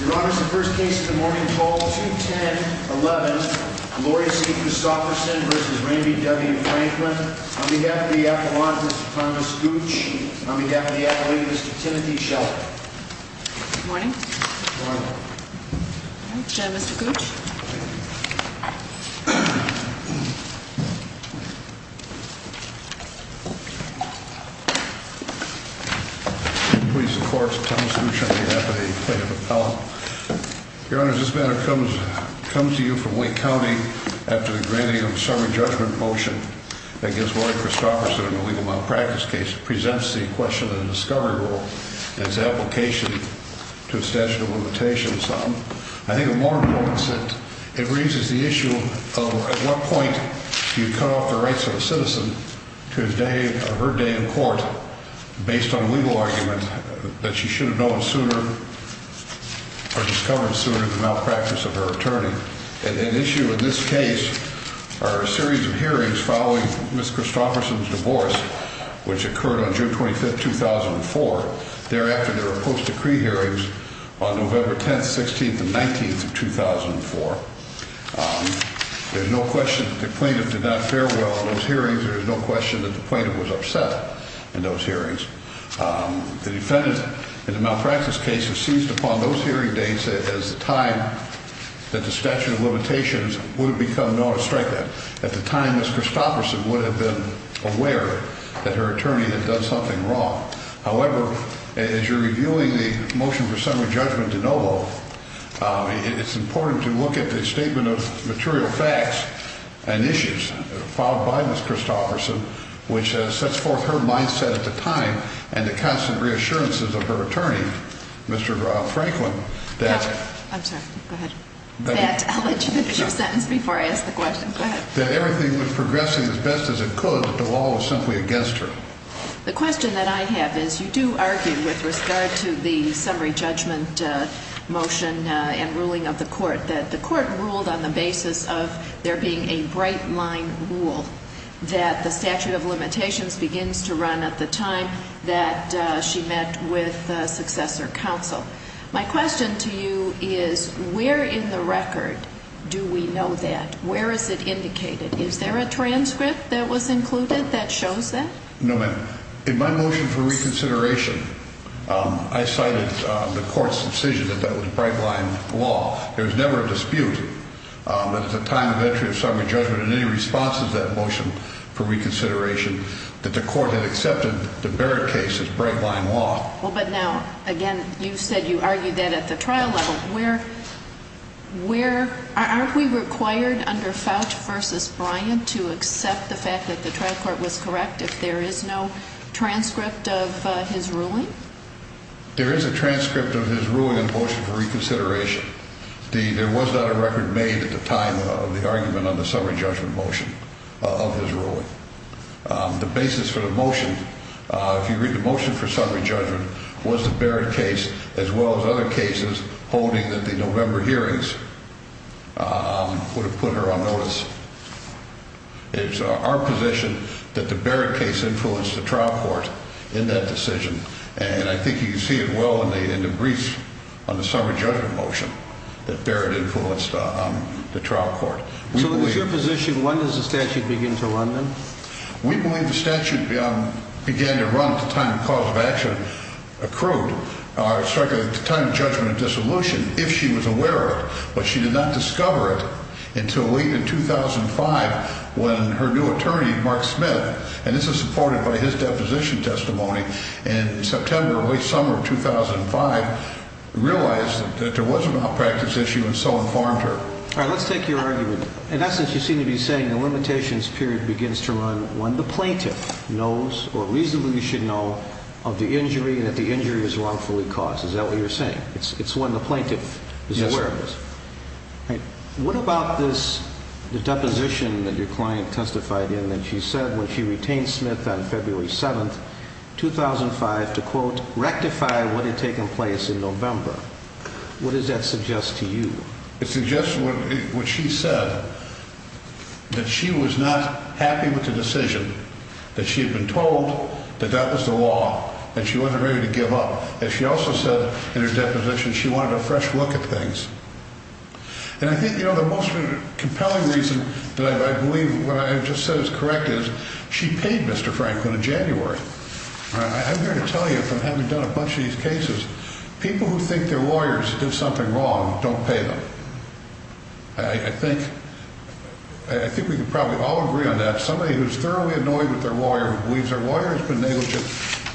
Your Honor, this is the first case of the morning, 12-2-10-11, Gloria C. Krosophersen v. Rain B. W. Franklin. On behalf of the appellant, Mr. Thomas Gooch. On behalf of the appellee, Mr. Timothy Shelton. Good morning. Good morning. Mr. Gooch. Your Honor, this matter comes to you from Wake County after the granting of a summary judgment motion against Gloria Krosophersen in a legal malpractice case. It presents the question of the discovery rule and its application to a statute of limitations. I think it raises the issue of at what point do you cut off the rights of a citizen to her day in court based on legal argument that she should have known sooner or discovered sooner the malpractice of her attorney. And an issue in this case are a series of hearings following Ms. Krosophersen's divorce, which occurred on June 25th, 2004. Thereafter, there were post-decree hearings on November 10th, 16th, and 19th of 2004. There's no question that the plaintiff did not fare well in those hearings. There's no question that the plaintiff was upset in those hearings. The defendant in the malpractice case has seized upon those hearing dates as the time that the statute of limitations would have become known to strike that. At the time, Ms. Krosophersen would have been aware that her attorney had done something wrong. However, as you're reviewing the motion for summary judgment de novo, it's important to look at the statement of material facts and issues filed by Ms. Krosophersen, which sets forth her mindset at the time and the constant reassurances of her attorney, Mr. Franklin, that... I'm sorry. Go ahead. I'll let you finish your sentence before I ask the question. Go ahead. That everything was progressing as best as it could, that the law was simply against her. The question that I have is you do argue with regard to the summary judgment motion and ruling of the court that the court ruled on the basis of there being a bright line rule that the statute of limitations begins to run at the time that she met with successor counsel. My question to you is where in the record do we know that? Where is it indicated? Is there a transcript that was included that shows that? No, ma'am. In my motion for reconsideration, I cited the court's decision that that was bright line law. There was never a dispute that at the time of entry of summary judgment and any responses to that motion for reconsideration that the court had accepted the Barrett case as bright line law. Well, but now, again, you said you argued that at the trial level. Where... where... aren't we required under Fouch v. Bryant to accept the fact that the trial court was correct if there is no transcript of his ruling? There is a transcript of his ruling in the motion for reconsideration. There was not a record made at the time of the argument on the summary judgment motion of his ruling. The basis for the motion, if you read the motion for summary judgment, was the Barrett case as well as other cases holding that the November hearings would have put her on notice. It's our position that the Barrett case influenced the trial court in that decision. And I think you can see it well in the brief on the summary judgment motion that Barrett influenced the trial court. So it's your position, when does the statute begin to run then? We believe the statute began to run at the time the cause of action accrued. The time of judgment of dissolution, if she was aware of it. But she did not discover it until late in 2005 when her new attorney, Mark Smith, and this is supported by his deposition testimony, in September or late summer of 2005, realized that there was a malpractice issue and so informed her. All right, let's take your argument. In essence, you seem to be saying the limitations period begins to run when the plaintiff knows or reasonably should know of the injury and that the injury was wrongfully caused. Is that what you're saying? It's when the plaintiff is aware of this. Yes, sir. All right. What about this, the deposition that your client testified in that she said when she retained Smith on February 7th, 2005, to, quote, rectify what had taken place in November? What does that suggest to you? It suggests what she said, that she was not happy with the decision, that she had been told that that was the law and she wasn't ready to give up. And she also said in her deposition she wanted a fresh look at things. And I think, you know, the most compelling reason that I believe what I just said is correct is she paid Mr. Franklin in January. I'm going to tell you from having done a bunch of these cases, people who think their lawyers did something wrong don't pay them. I think I think we can probably all agree on that. Somebody who's thoroughly annoyed with their lawyer, believes their lawyer has been negligent,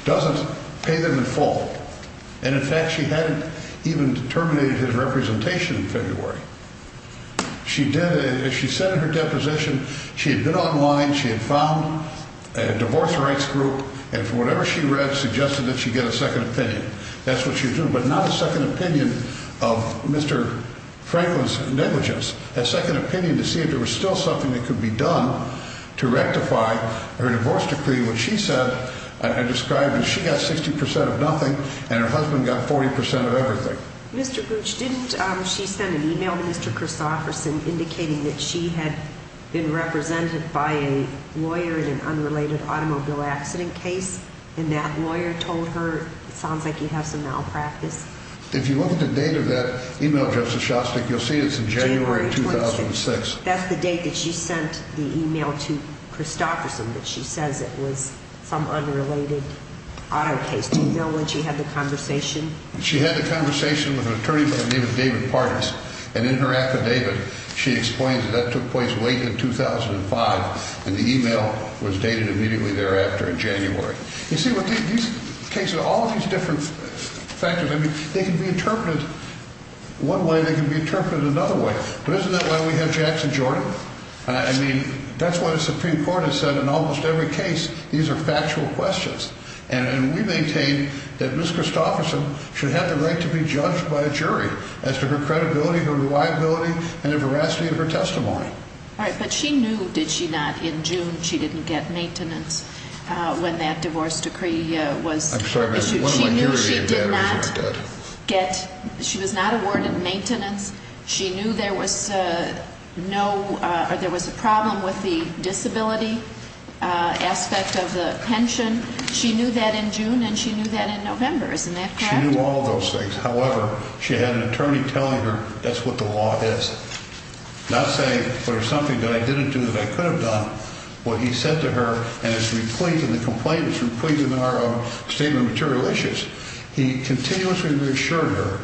doesn't pay them in full. And in fact, she hadn't even terminated his representation in February. She did, as she said in her deposition, she had been online, she had found a divorce rights group, and from whatever she read, suggested that she get a second opinion. That's what she was doing. But not a second opinion of Mr. Franklin's negligence, a second opinion to see if there was still something that could be done to rectify her divorce decree, which she said and described as she got 60 percent of nothing and her husband got 40 percent of everything. Mr. Gooch, didn't she send an email to Mr. Christopherson indicating that she had been represented by a lawyer in an unrelated automobile accident case? And that lawyer told her, it sounds like you have some malpractice. If you look at the date of that email, Justice Shostak, you'll see it's in January 2006. That's the date that she sent the email to Christopherson that she says it was some unrelated auto case. Do you know when she had the conversation? She had the conversation with an attorney by the name of David Pardis. And in her affidavit, she explains that that took place late in 2005, and the email was dated immediately thereafter in January. You see, with these cases, all of these different factors, I mean, they can be interpreted one way, they can be interpreted another way. But isn't that why we have Jackson Jordan? I mean, that's what the Supreme Court has said in almost every case. These are factual questions. And we maintain that Ms. Christopherson should have the right to be judged by a jury as to her credibility, her reliability, and the veracity of her testimony. All right. But she knew, did she not, in June she didn't get maintenance when that divorce decree was issued? I'm sorry, ma'am. One of my hearing aid batteries are dead. She was not awarded maintenance. She knew there was a problem with the disability aspect of the pension. She knew that in June, and she knew that in November. Isn't that correct? She knew all of those things. However, she had an attorney telling her that's what the law is. Not saying there's something that I didn't do that I could have done. What he said to her, and it's replete, and the complaint is replete in our own statement of material issues. He continuously reassured her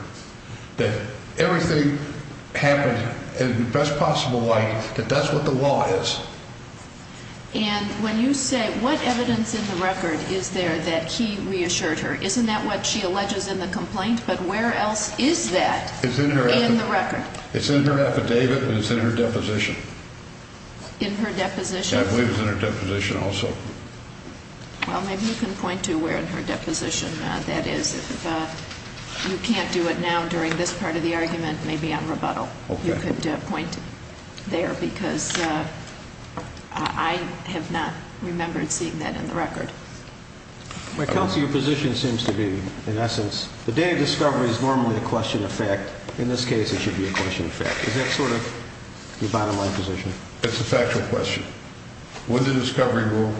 that everything happened in the best possible light, that that's what the law is. And when you say what evidence in the record is there that he reassured her, isn't that what she alleges in the complaint? But where else is that in the record? It's in her affidavit and it's in her deposition. In her deposition? I believe it's in her deposition also. Well, maybe you can point to where in her deposition that is. If you can't do it now during this part of the argument, maybe on rebuttal you could point there. Because I have not remembered seeing that in the record. Counsel, your position seems to be, in essence, the day of discovery is normally a question of fact. In this case, it should be a question of fact. Is that sort of your bottom line position? It's a factual question. When the discovery rule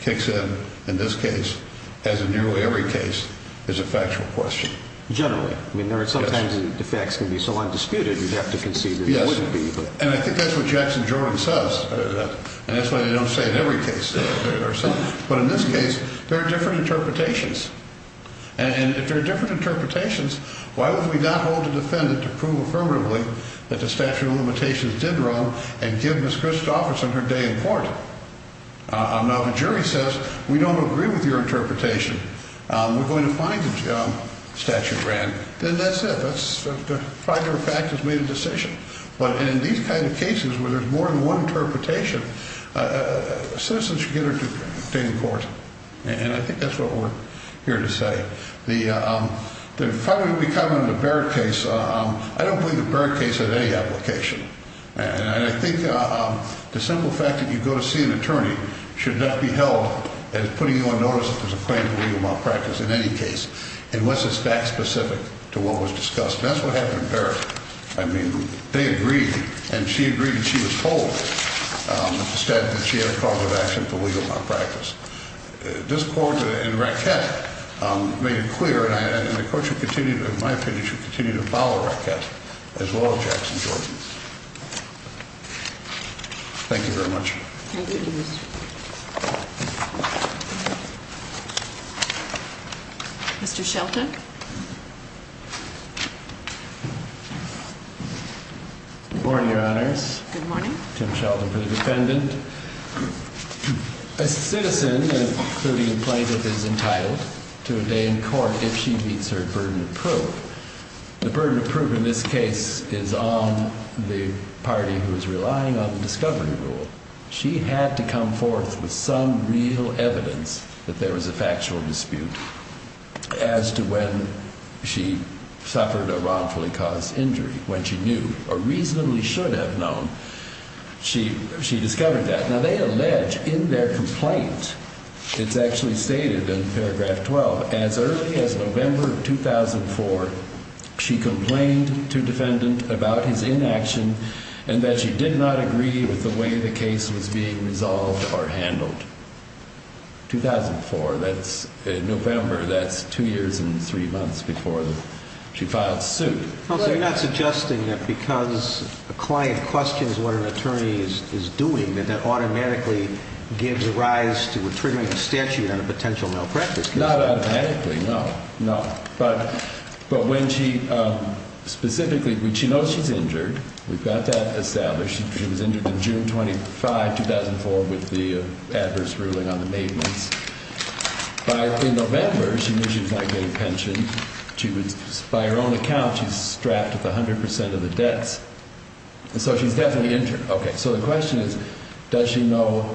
kicks in, in this case, as in nearly every case, it's a factual question. Generally. I mean, sometimes the facts can be so undisputed you'd have to concede that they wouldn't be. And I think that's what Jackson Jordan says. And that's why they don't say it in every case. But in this case, there are different interpretations. And if there are different interpretations, why would we not hold a defendant to prove affirmatively that the statute of limitations did wrong and give Ms. Christofferson her day in court? Now, if a jury says, we don't agree with your interpretation, we're going to find the statute ran, then that's it. The fact of the fact has made a decision. But in these kind of cases where there's more than one interpretation, a citizen should get her day in court. And I think that's what we're here to say. The final comment on the Barrett case, I don't believe the Barrett case has any application. And I think the simple fact that you go to see an attorney should not be held as putting you on notice if there's a claim to legal malpractice in any case unless it's fact specific to what was discussed. That's what happened in Barrett. I mean, they agreed and she agreed and she was told that she had a cause of action for legal malpractice. This court and Rackett made it clear, and the court should continue, in my opinion, should continue to follow Rackett as well as Jackson Jordan. Thank you very much. Thank you. Mr. Shelton. Good morning, Your Honors. Good morning. Tim Shelton for the defendant. A citizen, including a plaintiff, is entitled to a day in court if she meets her burden of proof. The burden of proof in this case is on the party who is relying on the discovery rule. She had to come forth with some real evidence that there was a factual dispute as to when she suffered a wrongfully caused injury, when she knew or reasonably should have known. She discovered that. Now, they allege in their complaint, it's actually stated in paragraph 12, as early as November 2004, she complained to defendant about his inaction and that she did not agree with the way the case was being resolved or handled. 2004, that's November, that's two years and three months before she filed suit. So you're not suggesting that because a client questions what an attorney is doing, that that automatically gives rise to triggering a statute on a potential malpractice case? Not automatically, no. No. But when she specifically, she knows she's injured. We've got that established. She was injured in June 25, 2004, with the adverse ruling on the maintenance. By November, she knew she was not getting pension. By her own account, she's strapped with 100% of the debts. So she's definitely injured. Okay, so the question is, does she know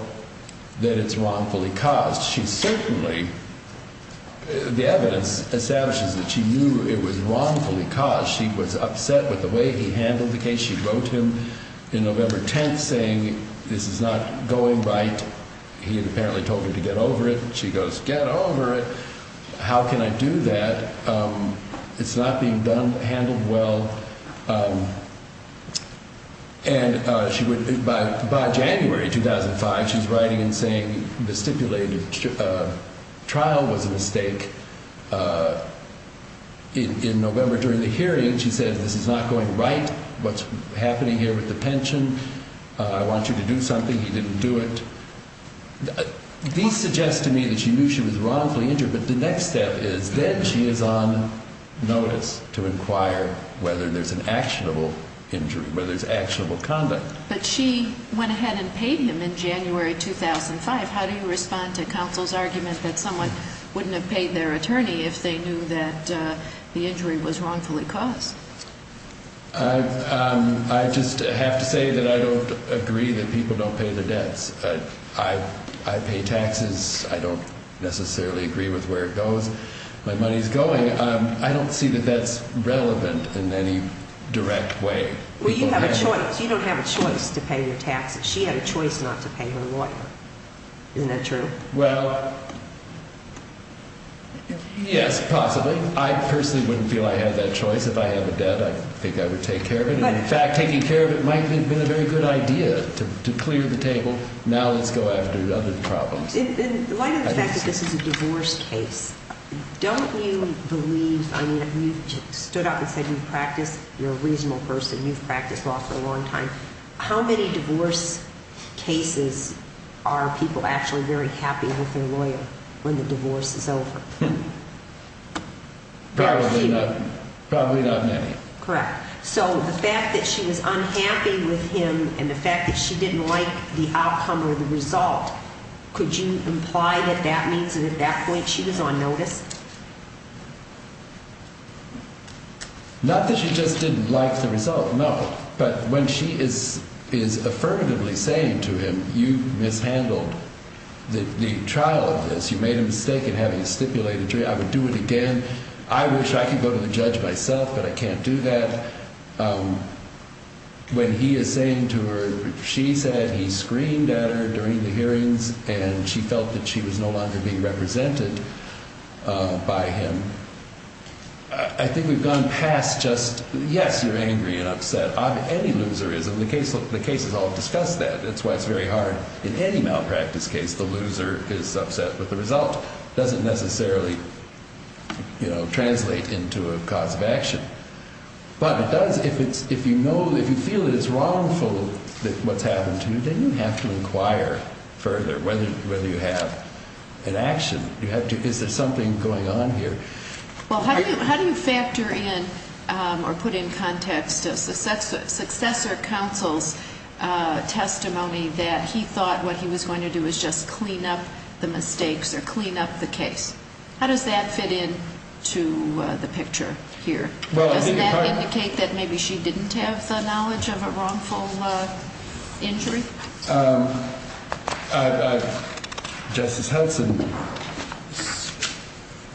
that it's wrongfully caused? She certainly, the evidence establishes that she knew it was wrongfully caused. She was upset with the way he handled the case. She wrote him in November 10th saying, this is not going right. He had apparently told her to get over it. She goes, get over it. How can I do that? It's not being done, handled well. And by January 2005, she's writing and saying the stipulated trial was a mistake. In November during the hearing, she said, this is not going right. What's happening here with the pension? I want you to do something. He didn't do it. These suggest to me that she knew she was wrongfully injured. But the next step is then she is on notice to inquire whether there's an actionable injury, whether there's actionable conduct. But she went ahead and paid him in January 2005. How do you respond to counsel's argument that someone wouldn't have paid their attorney if they knew that the injury was wrongfully caused? I just have to say that I don't agree that people don't pay their debts. I pay taxes. I don't necessarily agree with where it goes. My money's going. I don't see that that's relevant in any direct way. Well, you have a choice. You don't have a choice to pay your taxes. She had a choice not to pay her lawyer. Isn't that true? Well, yes, possibly. I personally wouldn't feel I had that choice. If I have a debt, I think I would take care of it. In fact, taking care of it might have been a very good idea to clear the table. Now let's go after other problems. In light of the fact that this is a divorce case, don't you believe, I mean, you stood up and said you practiced, you're a reasonable person, you've practiced law for a long time. How many divorce cases are people actually very happy with their lawyer when the divorce is over? Probably not many. Correct. So the fact that she was unhappy with him and the fact that she didn't like the outcome or the result, could you imply that that means that at that point she was on notice? Not that she just didn't like the result, no. But when she is affirmatively saying to him, you mishandled the trial of this, you made a mistake in having a stipulated jury, I would do it again. I wish I could go to the judge myself, but I can't do that. When he is saying to her, she said he screamed at her during the hearings and she felt that she was no longer being represented by him, I think we've gone past just, yes, you're angry and upset. Any loser is, and the cases all discuss that. That's why it's very hard in any malpractice case, the loser is upset with the result. It doesn't necessarily translate into a cause of action. But it does, if you feel it's wrongful what's happened to you, then you have to inquire further whether you have an action. Is there something going on here? How do you factor in or put in context a successor counsel's testimony that he thought what he was going to do was just clean up the mistakes or clean up the case? How does that fit in to the picture here? Does that indicate that maybe she didn't have the knowledge of a wrongful injury? Justice Hudson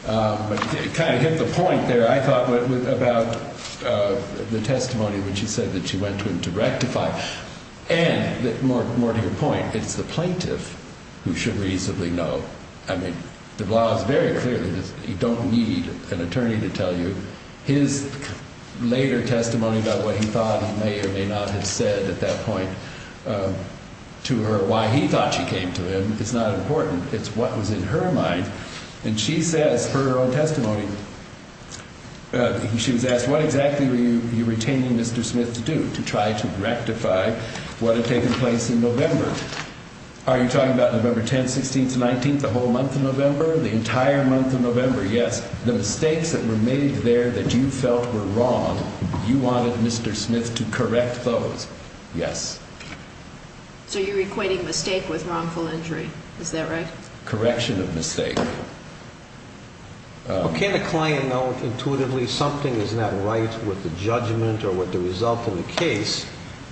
kind of hit the point there, I thought, about the testimony when she said that she went to him to rectify. And more to your point, it's the plaintiff who should reasonably know. I mean, the law is very clear that you don't need an attorney to tell you his later testimony about what he thought he may or may not have said at that point to her why he thought she came to him. It's not important. It's what was in her mind. And she says her own testimony. She was asked, what exactly were you retaining Mr. Smith to do, to try to rectify what had taken place in November? Are you talking about November 10th, 16th, and 19th, the whole month of November, the entire month of November? Yes. The mistakes that were made there that you felt were wrong, you wanted Mr. Smith to correct those. Yes. So you're equating mistake with wrongful injury. Is that right? Correction of mistake. Can a client know intuitively something is not right with the judgment or with the result of the case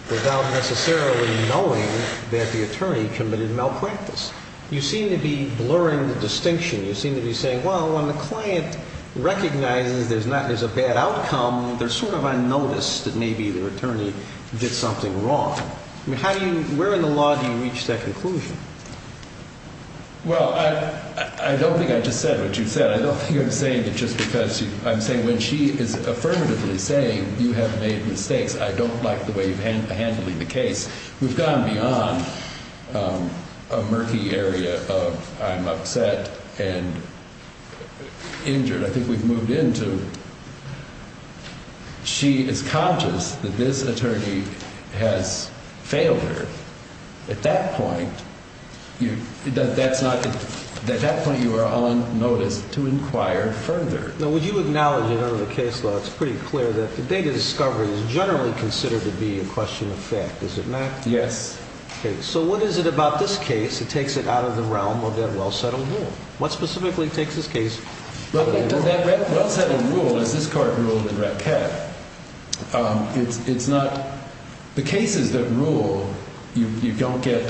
without necessarily knowing that the attorney committed malpractice? You seem to be blurring the distinction. You seem to be saying, well, when the client recognizes there's a bad outcome, they're sort of unnoticed that maybe their attorney did something wrong. Where in the law do you reach that conclusion? Well, I don't think I just said what you said. I don't think I'm saying that just because I'm saying when she is affirmatively saying you have made mistakes, I don't like the way you're handling the case. We've gone beyond a murky area of I'm upset and injured. I think we've moved into she is conscious that this attorney has failed her. At that point, you know, that's not at that point. You are on notice to inquire further. Now, would you acknowledge it under the case law? It's pretty clear that the data discovery is generally considered to be a question of fact. Is it not? Yes. So what is it about this case? It takes it out of the realm of that well-settled rule. What specifically takes this case? Well-settled rule is this court ruled in Raquette. It's not the cases that rule. You don't get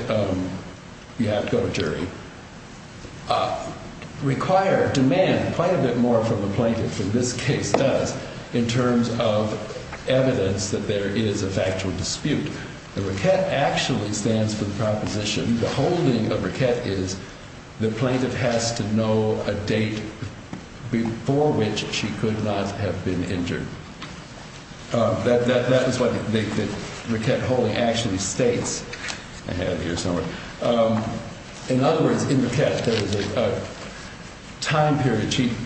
you have to go to jury. Require demand quite a bit more from the plaintiff for this case does in terms of evidence that there is a factual dispute. The Raquette actually stands for the proposition. The holding of Raquette is the plaintiff has to know a date before which she could not have been injured. That is what Raquette holding actually states. I have here somewhere. In other words, in Raquette, there was a time period chief.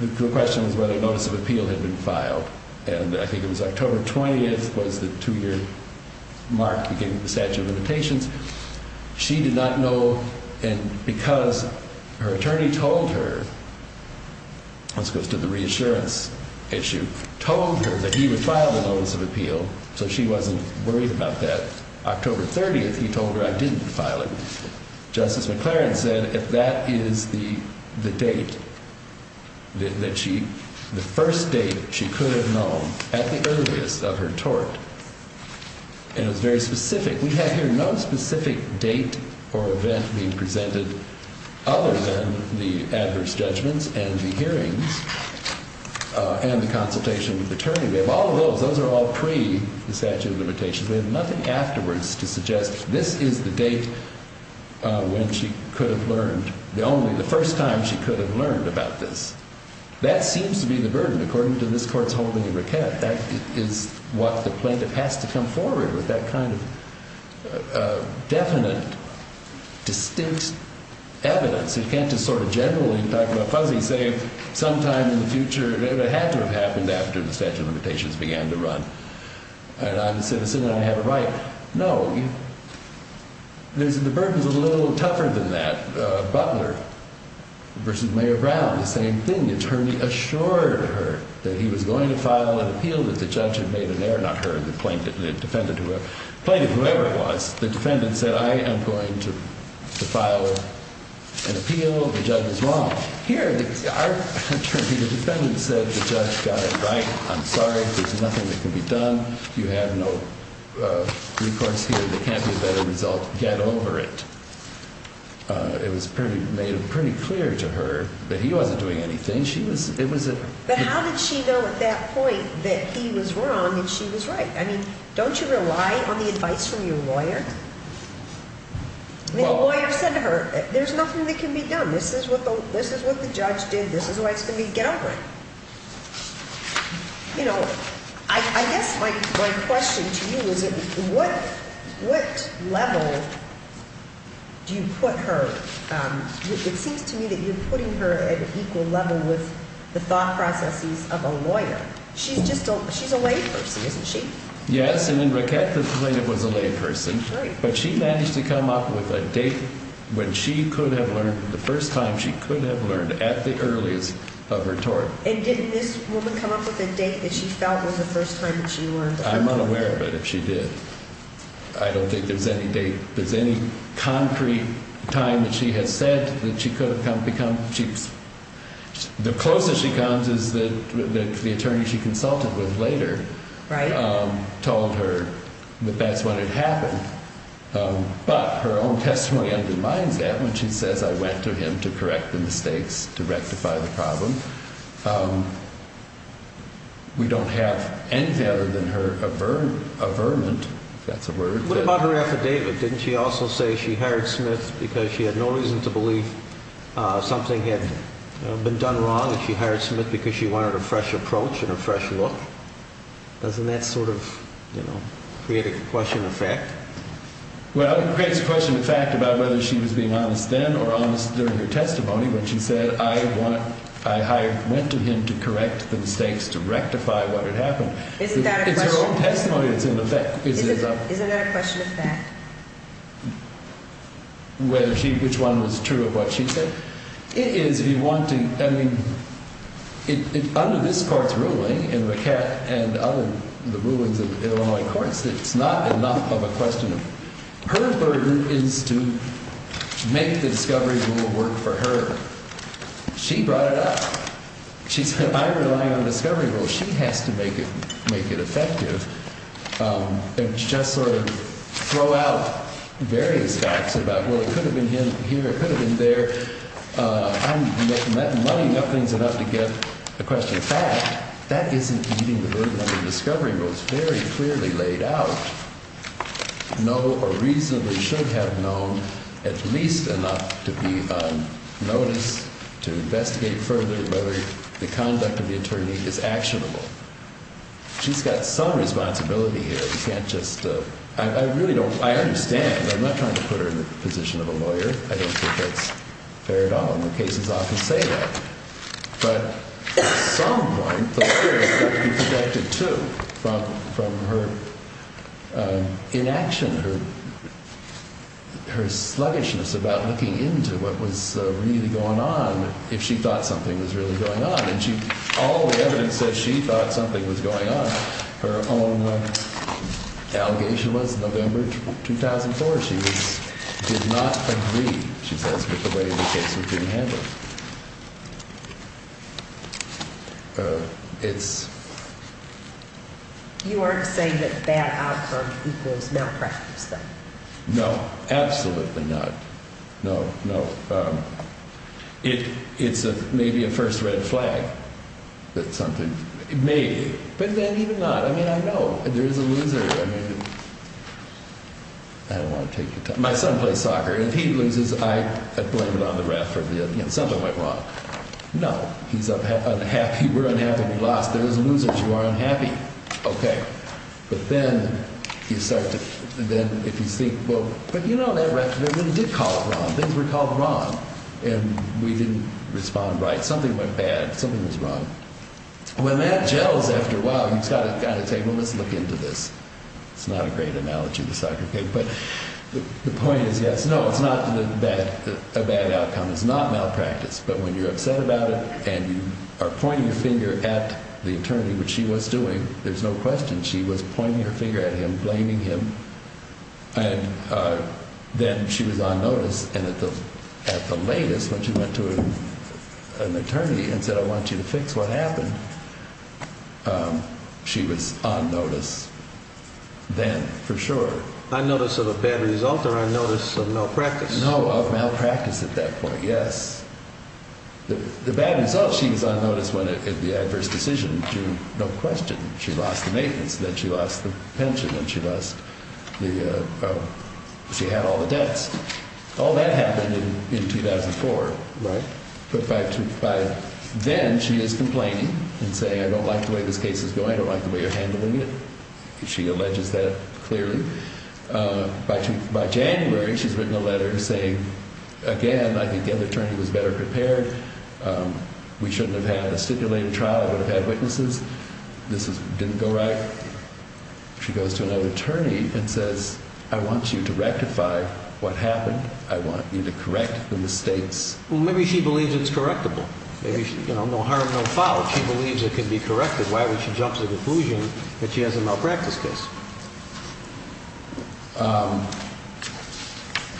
The question was whether a notice of appeal had been filed. And I think it was October 20th was the two year mark. The statute of limitations. She did not know. And because her attorney told her. Let's go to the reassurance issue. Told her that he would file the notice of appeal. So she wasn't worried about that. October 30th. He told her I didn't file it. Justice McLaren said if that is the date. That she the first date she could have known at the earliest of her tort. And it's very specific. We have here no specific date or event being presented. Other than the adverse judgments and the hearings. And the consultation with attorney. We have all of those. Those are all pre the statute of limitations. We have nothing afterwards to suggest this is the date. When she could have learned the only the first time she could have learned about this. That seems to be the burden. According to this court's holding of Raquette. That is what the plaintiff has to come forward with. That kind of definite distinct evidence. You can't just sort of generally talk about fuzzy. Say sometime in the future. It had to have happened after the statute of limitations began to run. And I'm a citizen. I have a right. No. The burden is a little tougher than that. Butler versus Mayor Brown. The same thing. The attorney assured her that he was going to file an appeal. That the judge had made an error. Not her. The plaintiff. Defendant. Plaintiff. Whoever it was. The defendant said, I am going to file an appeal. The judge is wrong. Here. The defendant said the judge got it right. I'm sorry. There's nothing that can be done. You have no recourse here. There can't be a better result. Get over it. It was pretty made pretty clear to her that he wasn't doing anything. But how did she know at that point that he was wrong and she was right? I mean, don't you rely on the advice from your lawyer? The lawyer said to her, there's nothing that can be done. This is what the judge did. This is why it's going to be. Get over it. You know, I guess my question to you is, what level do you put her? It seems to me that you're putting her at an equal level with the thought processes of a lawyer. She's just, she's a lay person, isn't she? And in Raquette, the plaintiff was a lay person. But she managed to come up with a date when she could have learned the first time she could have learned at the earliest of her tort. And didn't this woman come up with a date that she felt was the first time that she learned? I'm unaware of it. If she did. I don't think there's any date. The closest she comes is that the attorney she consulted with later told her that that's what had happened. But her own testimony undermines that when she says, I went to him to correct the mistakes, to rectify the problem. We don't have anything other than her averment, if that's a word. What about her affidavit? Didn't she also say she hired Smith because she had no reason to believe something had been done wrong? And she hired Smith because she wanted a fresh approach and a fresh look? Doesn't that sort of, you know, create a question of fact? Well, it creates a question of fact about whether she was being honest then or honest during her testimony when she said, I went to him to correct the mistakes, to rectify what had happened. Isn't that a question of fact? It's her own testimony that's in effect. Isn't that a question of fact? Which one was true of what she said? It is if you want to, I mean, under this court's ruling and other rulings of Illinois courts, it's not enough of a question. Her burden is to make the discovery rule work for her. She brought it up. She said, I rely on discovery rules. She has to make it effective. And just sort of throw out various facts about, well, it could have been here, it could have been there. I'm muddying up things enough to get a question of fact. That isn't meeting the burden of the discovery rules very clearly laid out. No reasonably should have known at least enough to be on notice to investigate further whether the conduct of the attorney is actionable. She's got some responsibility here. You can't just, I really don't, I understand. I'm not trying to put her in the position of a lawyer. I don't think that's fair at all. And the cases often say that. But at some point, the lawyer has to be protected too from her inaction, her sluggishness about looking into what was really going on, if she thought something was really going on. And all the evidence says she thought something was going on. Her own allegation was in November 2004. She did not agree, she says, with the way the case was being handled. It's... You aren't saying that bad outcome equals malpractice, though? No, absolutely not. No, no. It's maybe a first red flag that something... Maybe. But then even not. I mean, I know. There is a loser. I mean... I don't want to take your time. My son plays soccer. If he loses, I blame it on the ref. Something went wrong. No. He's unhappy. We're unhappy. We lost. There is losers. You are unhappy. Okay. But then you start to... Then if you think, well, but you know that ref. He did call it wrong. Things were called wrong. And we didn't respond right. Something went bad. Something was wrong. When that gels after a while, you've got to kind of say, well, let's look into this. It's not a great analogy, the soccer game. But the point is, yes, no, it's not a bad outcome. It's not malpractice. But when you're upset about it, and you are pointing your finger at the attorney, which she was doing. There's no question. She was pointing her finger at him, blaming him. And then she was on notice. And at the latest, when she went to an attorney and said, I want you to fix what happened, she was on notice then, for sure. On notice of a bad result or on notice of malpractice? No, of malpractice at that point, yes. The bad result, she was on notice when the adverse decision drew no question. She lost the maintenance. Then she lost the pension. And she lost the, she had all the debts. All that happened in 2004, right? But by then, she is complaining and saying, I don't like the way this case is going. I don't like the way you're handling it. She alleges that clearly. By January, she's written a letter saying, again, I think the other attorney was better prepared. We shouldn't have had a stipulated trial. I would have had witnesses. This didn't go right. She goes to another attorney and says, I want you to rectify what happened. I want you to correct the mistakes. Well, maybe she believes it's correctable. No harm, no foul. She believes it can be corrected. Why would she jump to the conclusion that she has a malpractice case?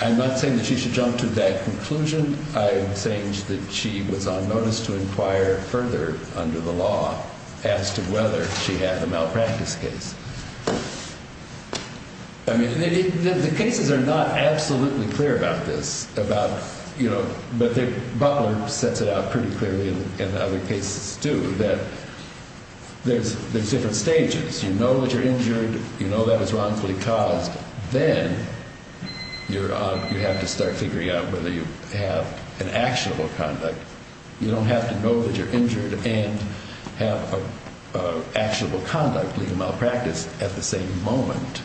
I'm not saying that she should jump to that conclusion. I'm saying that she was on notice to inquire further under the law as to whether she had a malpractice case. I mean, the cases are not absolutely clear about this. But Butler sets it out pretty clearly in other cases, too, that there's different stages. You know that you're injured. You know that it's wrongfully caused. Then you have to start figuring out whether you have an actionable conduct. You don't have to know that you're injured and have actionable conduct, legal malpractice, at the same moment,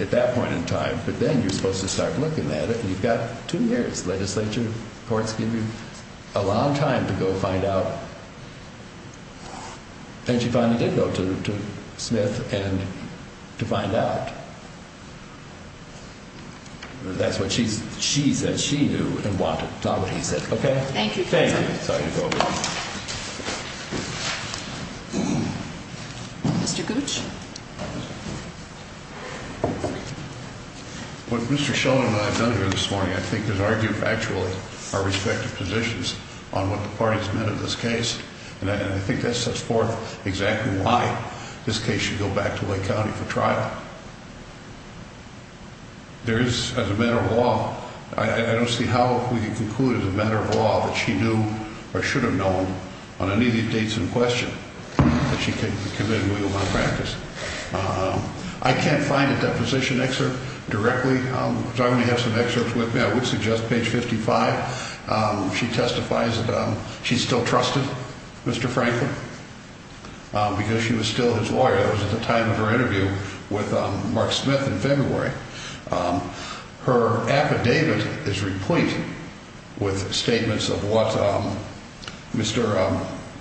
at that point in time. But then you're supposed to start looking at it. And you've got two years. Legislature courts give you a long time to go find out. And she finally did go to Smith to find out. That's what she said she knew and wanted, not what he said. Okay? Thank you. Thank you. Mr. Gooch? What Mr. Sheldon and I have done here this morning, I think, is argue factually our respective positions on what the parties meant in this case. And I think that sets forth exactly why this case should go back to Lake County for trial. There is, as a matter of law, I don't see how we can conclude as a matter of law that she knew or should have known on any of these dates in question that she could be committed to legal malpractice. I can't find a deposition excerpt directly, so I only have some excerpts with me. I would suggest page 55. She testifies that she still trusted Mr. Franklin because she was still his lawyer. That was at the time of her interview with Mark Smith in February. Her affidavit is replete with statements of what Mr.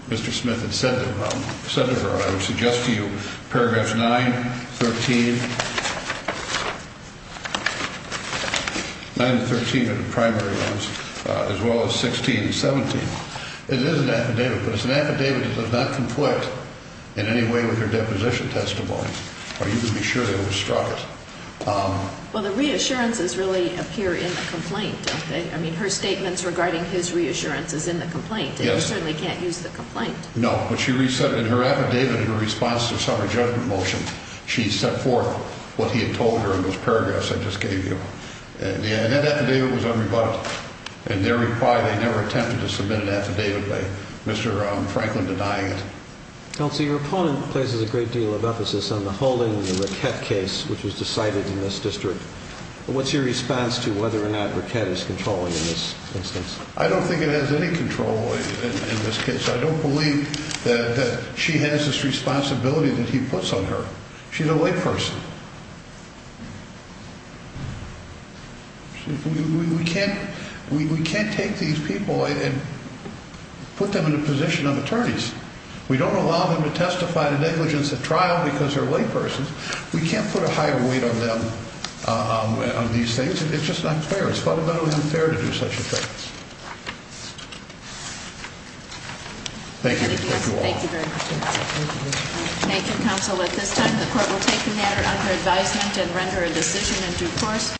Mr. Smith had said. Senator, I would suggest to you paragraphs 913. 913 of the primary loans, as well as 1617. It is an affidavit, but it's an affidavit that does not conflict in any way with her deposition testimony. Are you going to be sure that was struck? Well, the reassurances really appear in the complaint. I mean, her statements regarding his reassurance is in the complaint. You certainly can't use the complaint. No, but she reset in her affidavit in response to some of the judgment motion. She set forth what he had told her in those paragraphs I just gave you. And that affidavit was unrebutted. And their reply, they never attempted to submit an affidavit by Mr. Franklin denying it. Counsel, your opponent places a great deal of emphasis on the holding of the Raquette case, which was decided in this district. What's your response to whether or not Raquette is controlling in this instance? I don't think it has any control in this case. I don't believe that she has this responsibility that he puts on her. She's a layperson. We can't we can't take these people and put them in a position of attorneys. We don't allow them to testify to negligence at trial because they're laypersons. We can't put a higher weight on them on these things. It's just not fair. It's fundamentally unfair to do such a thing. Thank you. Thank you very much. Thank you, Counsel. At this time, the court will take the matter under advisement and render a decision in due course.